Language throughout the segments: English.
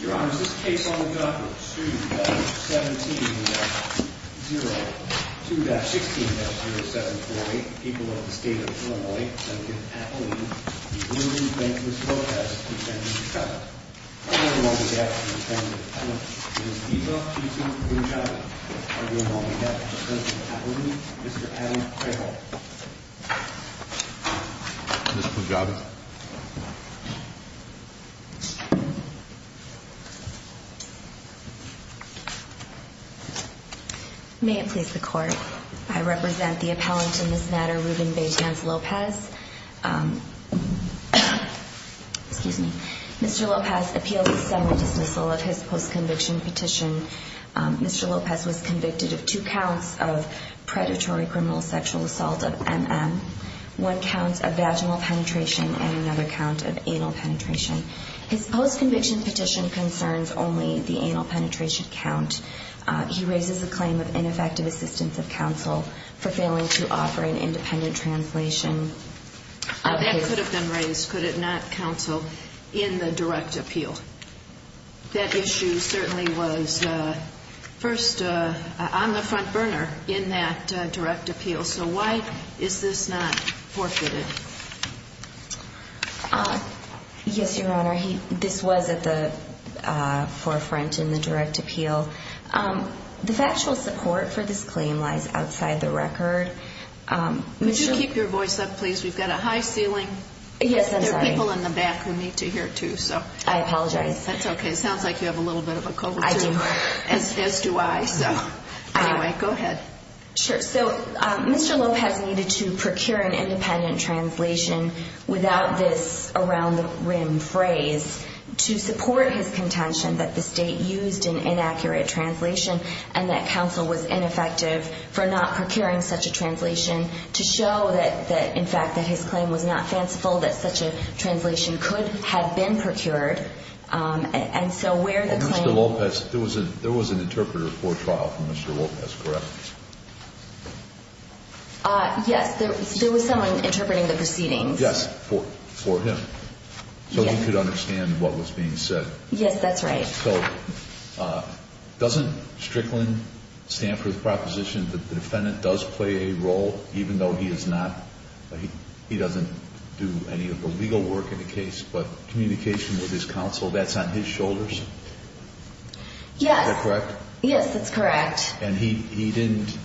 Your Honor, is this case on the docket 2-17-0, 2-16-0748, people of the state of Illinois, and in Appalooney, the early Betance-Lopez defendant, Trout. The other involved in the action of the defendant, Trout, is Eva Pitu Pujabi. The other involved in the action of the defendant in Appalooney, Mr. Adam Quayle. Ms. Pujabi. May it please the Court, I represent the appellant in this matter, Ruben Betance-Lopez. Excuse me. Mr. Lopez appealed a semi-dismissal of his post-conviction petition. Mr. Lopez was convicted of two counts of predatory criminal sexual assault, of MM. One count of vaginal penetration and another count of anal penetration. His post-conviction petition concerns only the anal penetration count. He raises a claim of ineffective assistance of counsel for failing to offer an independent translation. That could have been raised, could it not, counsel, in the direct appeal? That issue certainly was first on the front burner in that direct appeal. So why is this not forfeited? Yes, Your Honor, this was at the forefront in the direct appeal. The factual support for this claim lies outside the record. Would you keep your voice up, please? We've got a high ceiling. Yes, I'm sorry. There are people in the back who need to hear, too, so. I apologize. That's okay. It sounds like you have a little bit of a COVID fever. I do. As do I. Anyway, go ahead. Sure. So Mr. Lopez needed to procure an independent translation without this around-the-rim phrase to support his contention that the State used an inaccurate translation and that counsel was ineffective for not procuring such a translation to show that, in fact, that his claim was not fanciful, that such a translation could have been procured. And so where the claim— There was an interpreter for trial for Mr. Lopez, correct? Yes, there was someone interpreting the proceedings. Yes, for him, so he could understand what was being said. Yes, that's right. So doesn't Strickland stand for the proposition that the defendant does play a role, even though he is not—he doesn't do any of the legal work in the case, but communication with his counsel, that's on his shoulders? Yes. Is that correct? Yes, that's correct. And he didn't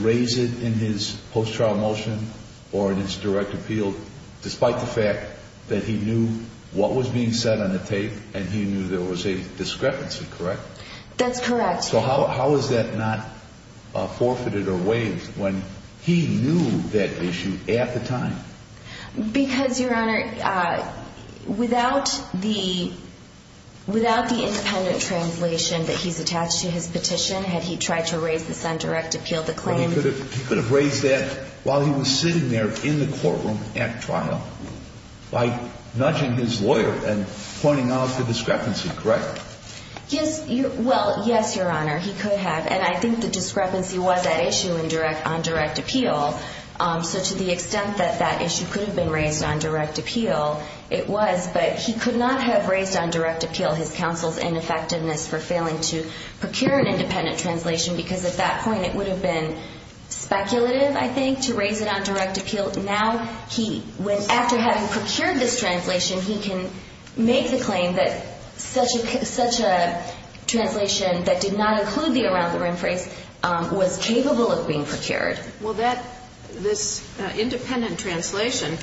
raise it in his post-trial motion or in his direct appeal, despite the fact that he knew what was being said on the tape and he knew there was a discrepancy, correct? That's correct. So how is that not forfeited or waived when he knew that issue at the time? Because, Your Honor, without the independent translation that he's attached to his petition, had he tried to raise this on direct appeal, the claim— Well, he could have raised that while he was sitting there in the courtroom at trial by nudging his lawyer and pointing out the discrepancy, correct? Well, yes, Your Honor, he could have. And I think the discrepancy was that issue on direct appeal. So to the extent that that issue could have been raised on direct appeal, it was, but he could not have raised on direct appeal his counsel's ineffectiveness for failing to procure an independent translation, because at that point it would have been speculative, I think, to raise it on direct appeal. Now, after having procured this translation, he can make the claim that such a translation that did not include the around-the-rim phrase was capable of being procured. Well, that—this independent translation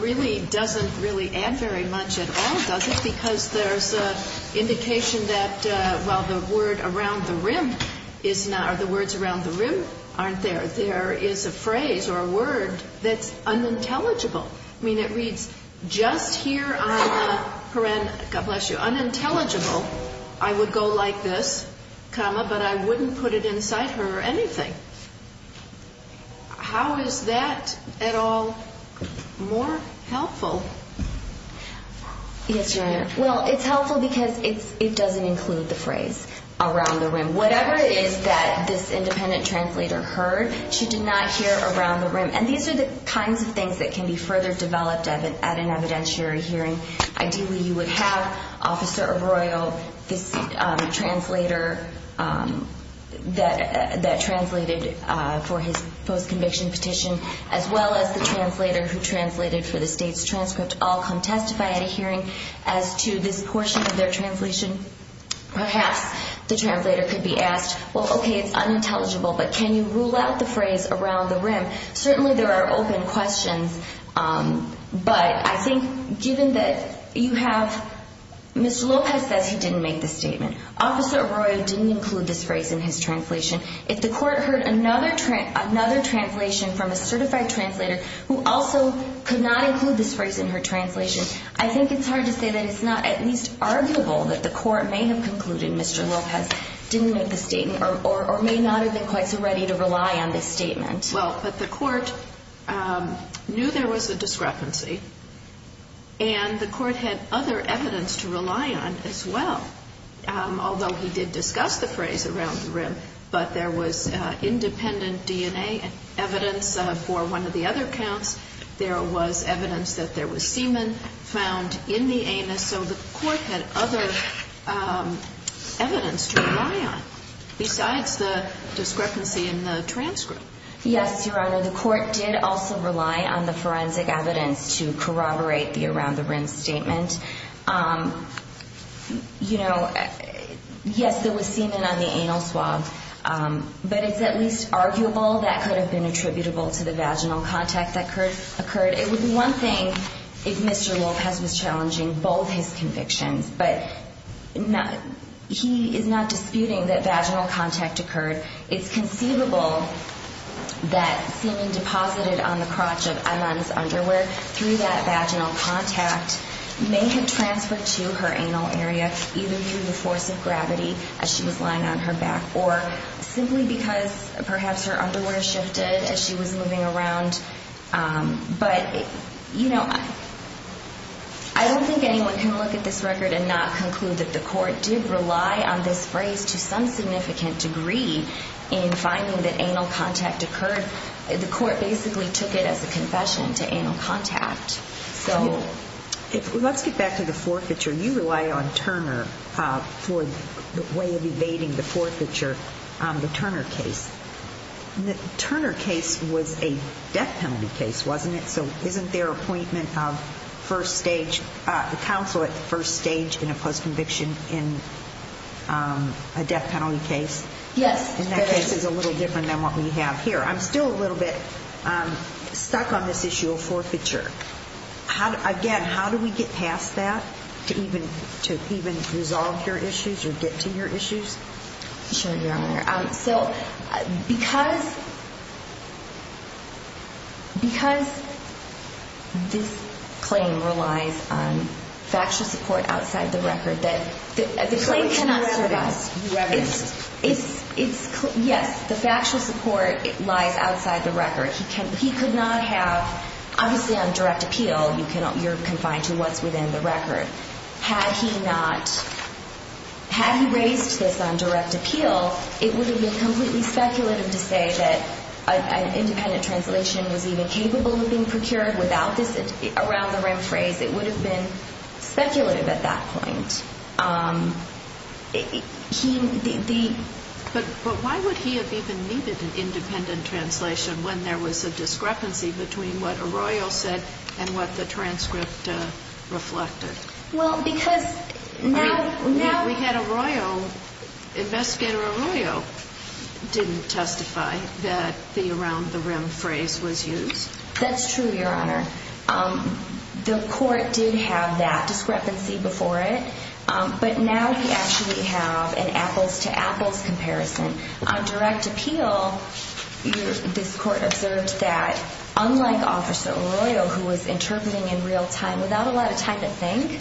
really doesn't really add very much at all, does it? Because there's an indication that while the word around the rim is not— or the words around the rim aren't there, there is a phrase or a word that's unintelligible. I mean, it reads, I would go like this, comma, but I wouldn't put it inside her or anything. How is that at all more helpful? Yes, Your Honor. Well, it's helpful because it doesn't include the phrase around the rim. Whatever it is that this independent translator heard, she did not hear around the rim. And these are the kinds of things that can be further developed at an evidentiary hearing. Ideally, you would have Officer Arroyo, this translator that translated for his post-conviction petition, as well as the translator who translated for the state's transcript, all come testify at a hearing as to this portion of their translation. Perhaps the translator could be asked, well, okay, it's unintelligible, but can you rule out the phrase around the rim? Certainly there are open questions, but I think given that you have— Mr. Lopez says he didn't make the statement. Officer Arroyo didn't include this phrase in his translation. If the court heard another translation from a certified translator who also could not include this phrase in her translation, I think it's hard to say that it's not at least arguable that the court may have concluded Mr. Lopez didn't make the statement or may not have been quite so ready to rely on this statement. Well, but the court knew there was a discrepancy, and the court had other evidence to rely on as well. Although he did discuss the phrase around the rim, but there was independent DNA evidence for one of the other counts. There was evidence that there was semen found in the anus. So the court had other evidence to rely on besides the discrepancy in the transcript. Yes, Your Honor, the court did also rely on the forensic evidence to corroborate the around the rim statement. You know, yes, there was semen on the anal swab, but it's at least arguable that could have been attributable to the vaginal contact that occurred. It would be one thing if Mr. Lopez was challenging both his convictions, but he is not disputing that vaginal contact occurred. It's conceivable that semen deposited on the crotch of Eman's underwear through that vaginal contact may have transferred to her anal area either through the force of gravity as she was lying on her back or simply because perhaps her underwear shifted as she was moving around. But, you know, I don't think anyone can look at this record and not conclude that the court did rely on this phrase to some significant degree in finding that anal contact occurred. The court basically took it as a confession to anal contact. Let's get back to the forfeiture. You rely on Turner for the way of evading the forfeiture, the Turner case. The Turner case was a death penalty case, wasn't it? So isn't their appointment of first stage counsel at the first stage in a postconviction in a death penalty case? Yes. And that case is a little different than what we have here. I'm still a little bit stuck on this issue of forfeiture. Again, how do we get past that to even resolve your issues or get to your issues? Sure, Your Honor. So because this claim relies on factual support outside the record, the claim cannot survive. It's irreverent. Yes, the factual support lies outside the record. He could not have, obviously on direct appeal, you're confined to what's within the record. Had he not, had he raised this on direct appeal, it would have been completely speculative to say that an independent translation was even capable of being procured without this around the rim phrase. It would have been speculative at that point. But why would he have even needed an independent translation when there was a discrepancy between what Arroyo said and what the transcript reflected? Well, because now... We had Arroyo, Investigator Arroyo didn't testify that the around the rim phrase was used. That's true, Your Honor. The court did have that discrepancy before it, but now we actually have an apples-to-apples comparison. On direct appeal, this court observed that unlike Officer Arroyo, who was interpreting in real time without a lot of time to think,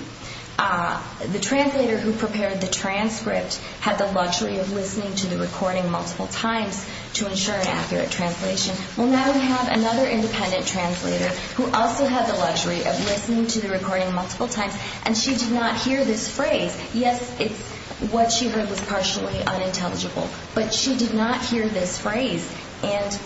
the translator who prepared the transcript had the luxury of listening to the recording multiple times to ensure an accurate translation. Well, now we have another independent translator who also had the luxury of listening to the recording multiple times, and she did not hear this phrase. Yes, what she heard was partially unintelligible, but she did not hear this phrase. And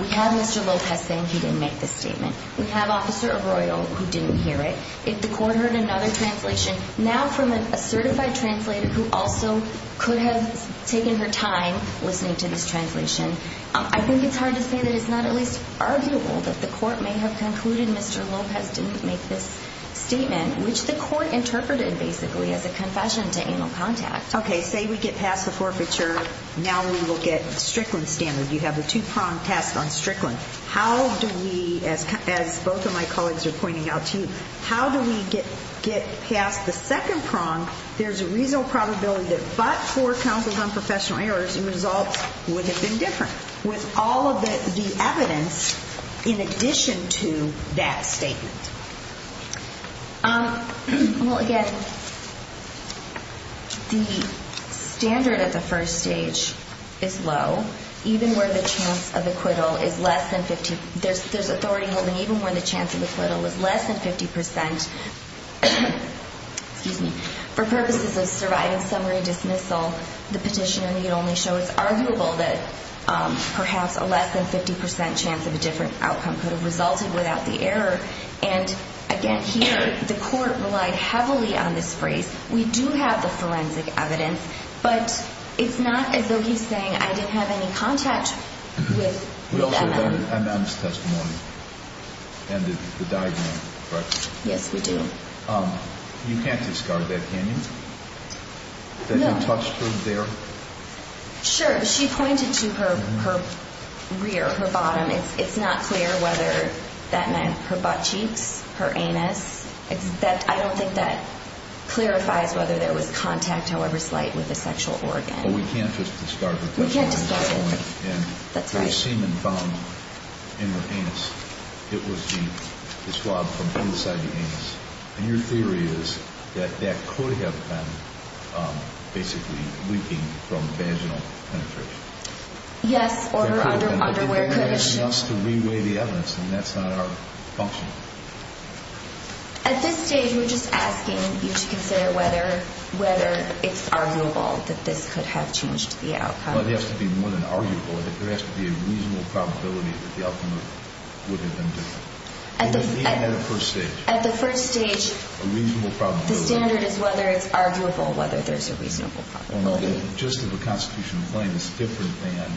we have Mr. Lopez saying he didn't make this statement. We have Officer Arroyo who didn't hear it. If the court heard another translation, now from a certified translator who also could have taken her time listening to this translation, I think it's hard to say that it's not at least arguable that the court may have concluded Mr. Lopez didn't make this statement, which the court interpreted basically as a confession to anal contact. Okay, say we get past the forfeiture. Now we will get Strickland standard. You have a two-pronged test on Strickland. How do we, as both of my colleagues are pointing out to you, how do we get past the second prong? There's a reasonable probability that but for counsel's unprofessional errors, the results would have been different with all of the evidence in addition to that statement. Well, again, the standard at the first stage is low, even where the chance of acquittal is less than 50. There's authority holding even where the chance of acquittal is less than 50 percent. Excuse me. For purposes of surviving summary dismissal, the petitioner need only show it's arguable that perhaps a less than 50 percent chance of a different outcome could have resulted without the error. And, again, here the court relied heavily on this phrase. We do have the forensic evidence, but it's not as though he's saying I didn't have any contact with MM. We also have MM's testimony and the diagram, correct? Yes, we do. You can't discard that, can you? No. That you touched her there? Sure. She pointed to her rear, her bottom. It's not clear whether that meant her butt cheeks, her anus. I don't think that clarifies whether there was contact, however slight, with a sexual organ. But we can't just discard that. We can't discard that. The semen found in the anus, it was the swab from inside the anus. And your theory is that that could have been basically leaking from vaginal penetration. Yes, or her underwear could have been. You're asking us to re-weigh the evidence, and that's not our function. At this stage, we're just asking you to consider whether it's arguable that this could have changed the outcome. It has to be more than arguable. There has to be a reasonable probability that the outcome would have been different. Even at the first stage. At the first stage, the standard is whether it's arguable, whether there's a reasonable probability. Just as the constitutional claim is different than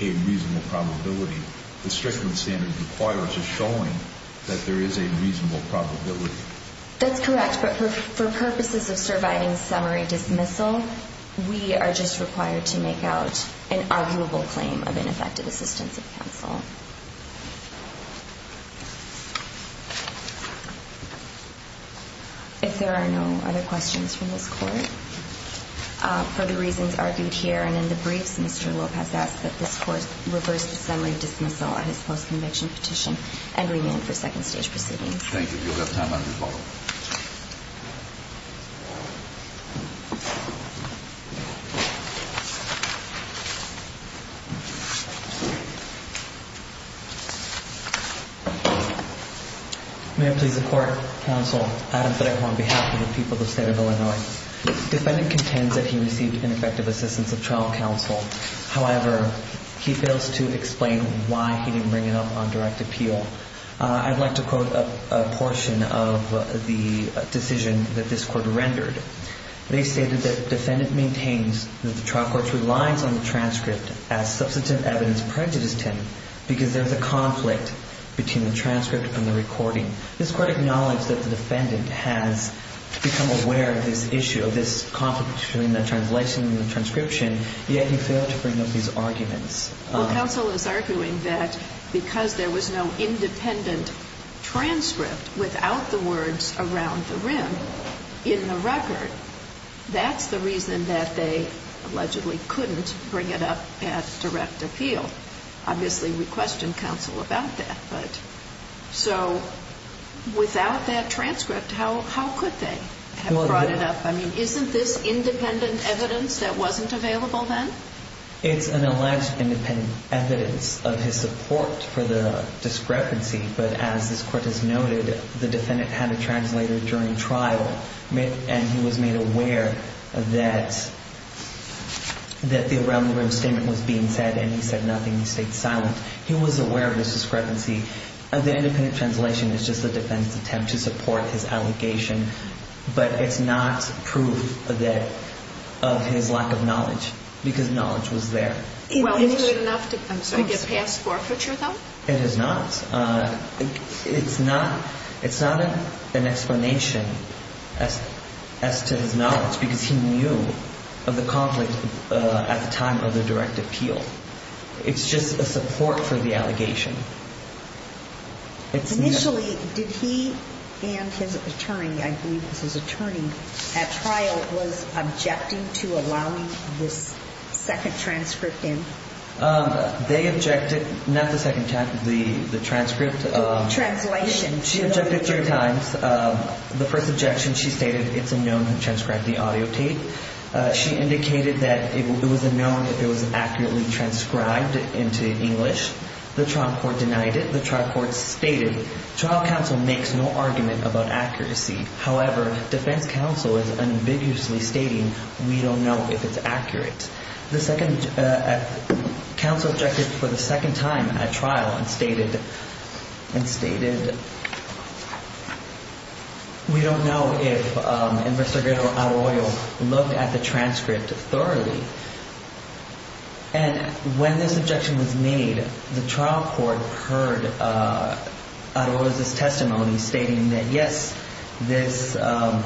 a reasonable probability, the Strickland standard requires a showing that there is a reasonable probability. That's correct, but for purposes of surviving summary dismissal, we are just required to make out an arguable claim of ineffective assistance of counsel. If there are no other questions from this Court, for the reasons argued here and in the briefs, Mr. Lopez asks that this Court reverse the summary dismissal on his post-conviction petition and remand for second-stage proceedings. Thank you. You'll have time on your phone. Thank you. May it please the Court, Counsel Adam Fedekhor on behalf of the people of the State of Illinois. The defendant contends that he received ineffective assistance of trial counsel. However, he fails to explain why he didn't bring it up on direct appeal. I'd like to quote a portion of the decision that this Court rendered. They stated that the defendant maintains that the trial court relies on the transcript as substantive evidence prejudiced him because there's a conflict between the transcript and the recording. This Court acknowledged that the defendant has become aware of this issue, of this conflict between the translation and the transcription, yet he failed to bring up these arguments. Well, counsel is arguing that because there was no independent transcript without the words around the rim in the record, that's the reason that they allegedly couldn't bring it up at direct appeal. Obviously, we questioned counsel about that. But so without that transcript, how could they have brought it up? I mean, isn't this independent evidence that wasn't available then? It's an alleged independent evidence of his support for the discrepancy, but as this Court has noted, the defendant had a translator during trial and he was made aware that the around the rim statement was being said and he said nothing and he stayed silent. He was aware of this discrepancy. The independent translation is just the defendant's attempt to support his allegation, but it's not proof of his lack of knowledge because knowledge was there. Well, is it enough to get past forfeiture, though? It is not. It's not an explanation as to his knowledge because he knew of the conflict at the time of the direct appeal. It's just a support for the allegation. Initially, did he and his attorney, I believe it was his attorney, at trial was objecting to allowing this second transcript in? They objected not the second transcript. Translation. She objected three times. The first objection, she stated it's unknown who transcribed the audio tape. She indicated that it was unknown if it was accurately transcribed into English. The trial court denied it. The trial court stated trial counsel makes no argument about accuracy. However, defense counsel is ambiguously stating we don't know if it's accurate. The second counsel objected for the second time at trial and stated we don't know if Mr. Arroyo looked at the transcript thoroughly. And when this objection was made, the trial court heard Arroyo's testimony stating that, yes, the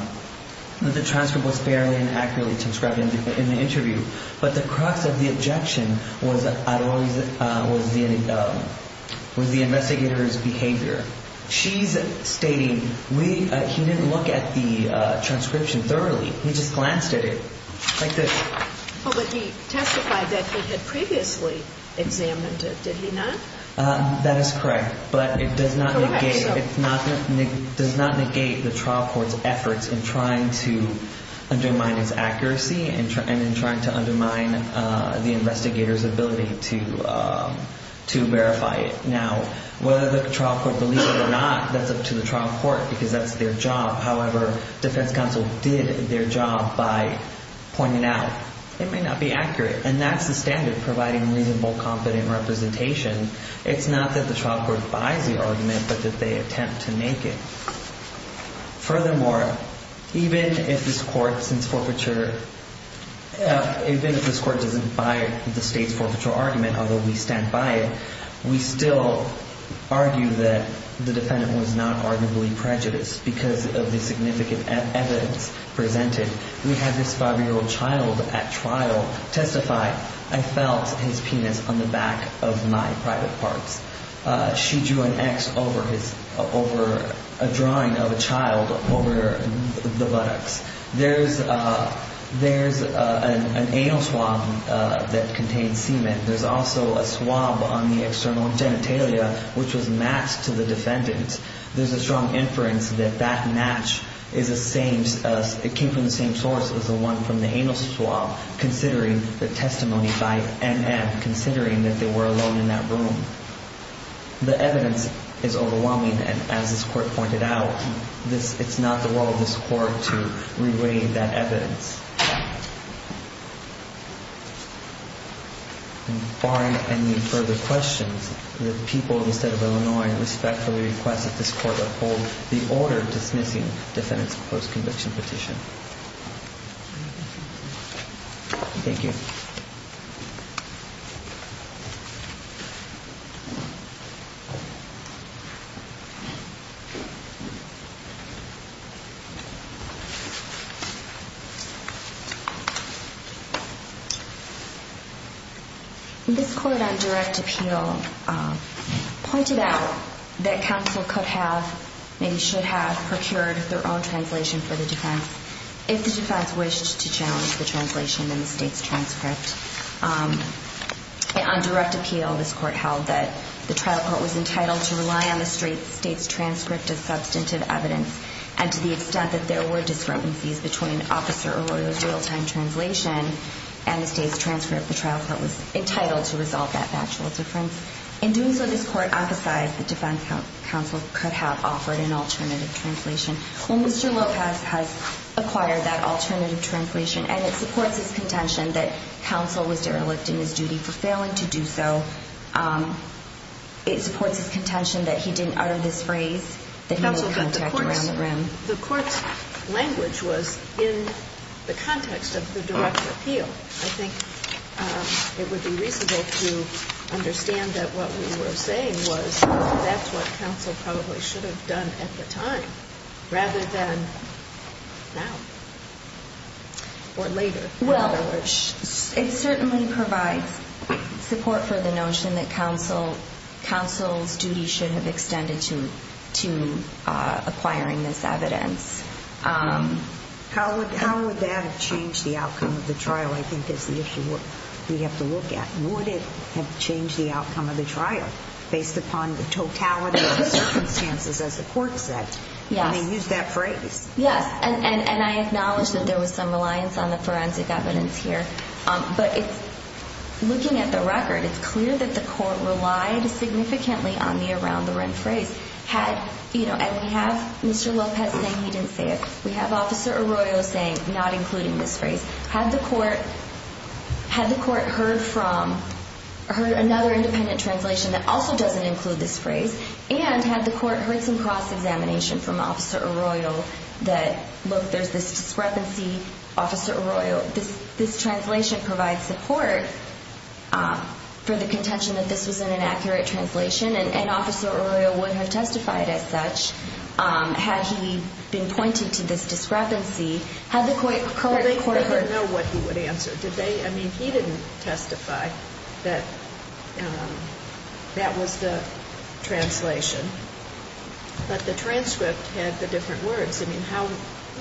transcript was fairly and accurately transcribed in the interview. But the crux of the objection was the investigator's behavior. She's stating he didn't look at the transcription thoroughly. He just glanced at it like this. But he testified that he had previously examined it. Did he not? That is correct. But it does not negate the trial court's efforts in trying to undermine its accuracy and in trying to undermine the investigator's ability to verify it. Now, whether the trial court believes it or not, that's up to the trial court, because that's their job. However, defense counsel did their job by pointing out it may not be accurate. And that's the standard, providing reasonable, competent representation. It's not that the trial court buys the argument, but that they attempt to make it. Furthermore, even if this court doesn't buy the state's forfeiture argument, although we stand by it, we still argue that the defendant was not arguably prejudiced because of the significant evidence presented. We had this 5-year-old child at trial testify, I felt his penis on the back of my private parts. She drew an X over a drawing of a child over the buttocks. There's an anal swab that contains semen. There's also a swab on the external genitalia, which was matched to the defendant. There's a strong inference that that match came from the same source as the one from the anal swab, considering the testimony by NM, considering that they were alone in that room. The evidence is overwhelming, and as this court pointed out, it's not the role of this court to re-weigh that evidence. Barring any further questions, the people of the state of Illinois respectfully request that this court uphold the order dismissing defendant's post-conviction petition. Thank you. This court on direct appeal pointed out that counsel could have, maybe should have, procured their own translation for the defense. If the defense wished to challenge the translation in the state's transcript. On direct appeal, this court held that the trial court was entitled to rely on the state's transcript as substantive evidence, and to the extent that there were discrepancies between officer or lawyer's real-time translation and the state's transcript, the trial court was entitled to resolve that factual difference. In doing so, this court hypothesized the defense counsel could have offered an alternative translation. Well, Mr. Lopez has acquired that alternative translation, and it supports his contention that counsel was derelict in his duty for failing to do so. It supports his contention that he didn't utter this phrase, that he made contact around the room. The court's language was in the context of the direct appeal. I think it would be reasonable to understand that what we were saying was that's what counsel probably should have done at the time, rather than now or later. Well, it certainly provides support for the notion that counsel's duty should have extended to acquiring this evidence. How would that have changed the outcome of the trial, I think, is the issue we have to look at. Would it have changed the outcome of the trial based upon the totality of the circumstances, as the court said, when they used that phrase? Yes, and I acknowledge that there was some reliance on the forensic evidence here. But looking at the record, it's clear that the court relied significantly on the around-the-room phrase. And we have Mr. Lopez saying he didn't say it. We have Officer Arroyo saying, not including this phrase. Had the court heard another independent translation that also doesn't include this phrase, and had the court heard some cross-examination from Officer Arroyo that, look, there's this discrepancy. Officer Arroyo, this translation provides support for the contention that this was an inaccurate translation, and Officer Arroyo would have testified as such had he been pointed to this discrepancy. Had the court heard it? They didn't know what he would answer, did they? I mean, he didn't testify that that was the translation. But the transcript had the different words. I mean, how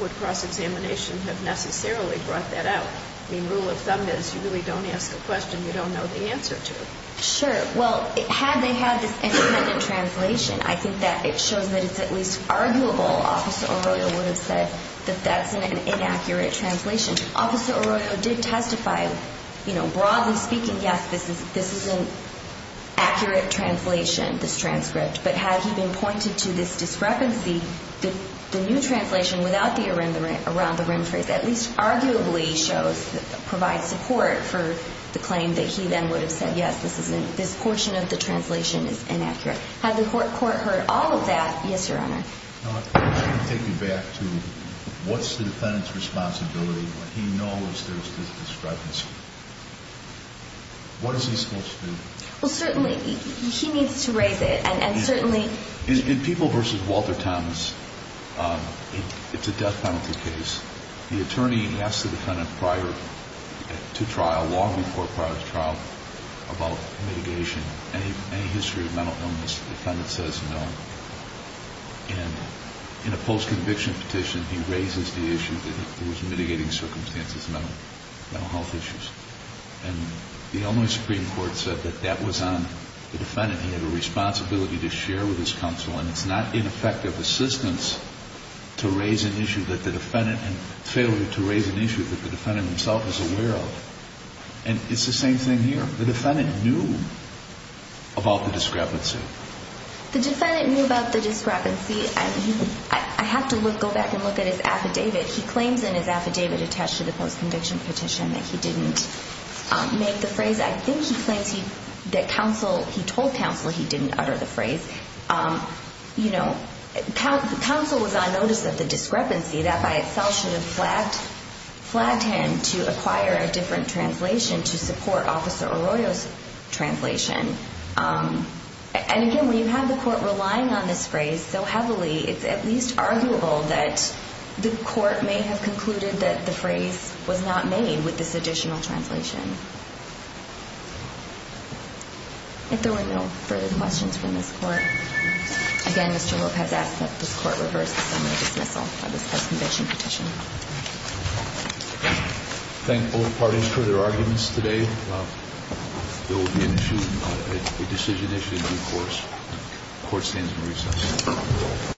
would cross-examination have necessarily brought that out? I mean, rule of thumb is you really don't ask a question you don't know the answer to. Sure. Well, had they had this independent translation, I think that it shows that it's at least arguable. Officer Arroyo would have said that that's an inaccurate translation. Officer Arroyo did testify, you know, broadly speaking, yes, this is an accurate translation, this transcript. But had he been pointed to this discrepancy, the new translation without the around the rim phrase at least arguably provides support for the claim that he then would have said, yes, this portion of the translation is inaccurate. Had the court heard all of that? Yes, Your Honor. Now, let me take you back to what's the defendant's responsibility when he knows there's this discrepancy? What is he supposed to do? Well, certainly he needs to raise it, and certainly... In People v. Walter Thomas, it's a death penalty case. The attorney asks the defendant prior to trial, long before prior to trial, about mitigation. In any history of mental illness, the defendant says no. And in a post-conviction petition, he raises the issue that he was mitigating circumstances, mental health issues. And the Illinois Supreme Court said that that was on the defendant. He had a responsibility to share with his counsel, and it's not ineffective assistance to raise an issue that the defendant and failure to raise an issue that the defendant himself is aware of. And it's the same thing here. The defendant knew about the discrepancy. The defendant knew about the discrepancy, and I have to go back and look at his affidavit. He claims in his affidavit attached to the post-conviction petition that he didn't make the phrase. I think he claims that he told counsel he didn't utter the phrase. You know, counsel was on notice of the discrepancy. That by itself should have flagged him to acquire a different translation to support Officer Arroyo's translation. And again, when you have the court relying on this phrase so heavily, it's at least arguable that the court may have concluded that the phrase was not made with this additional translation. If there were no further questions from this court. Again, Mr. Hope has asked that this court reverse the summary dismissal of this post-conviction petition. Thank both parties for their arguments today. There will be an issue, a decision issue in due course. Court stands in recess.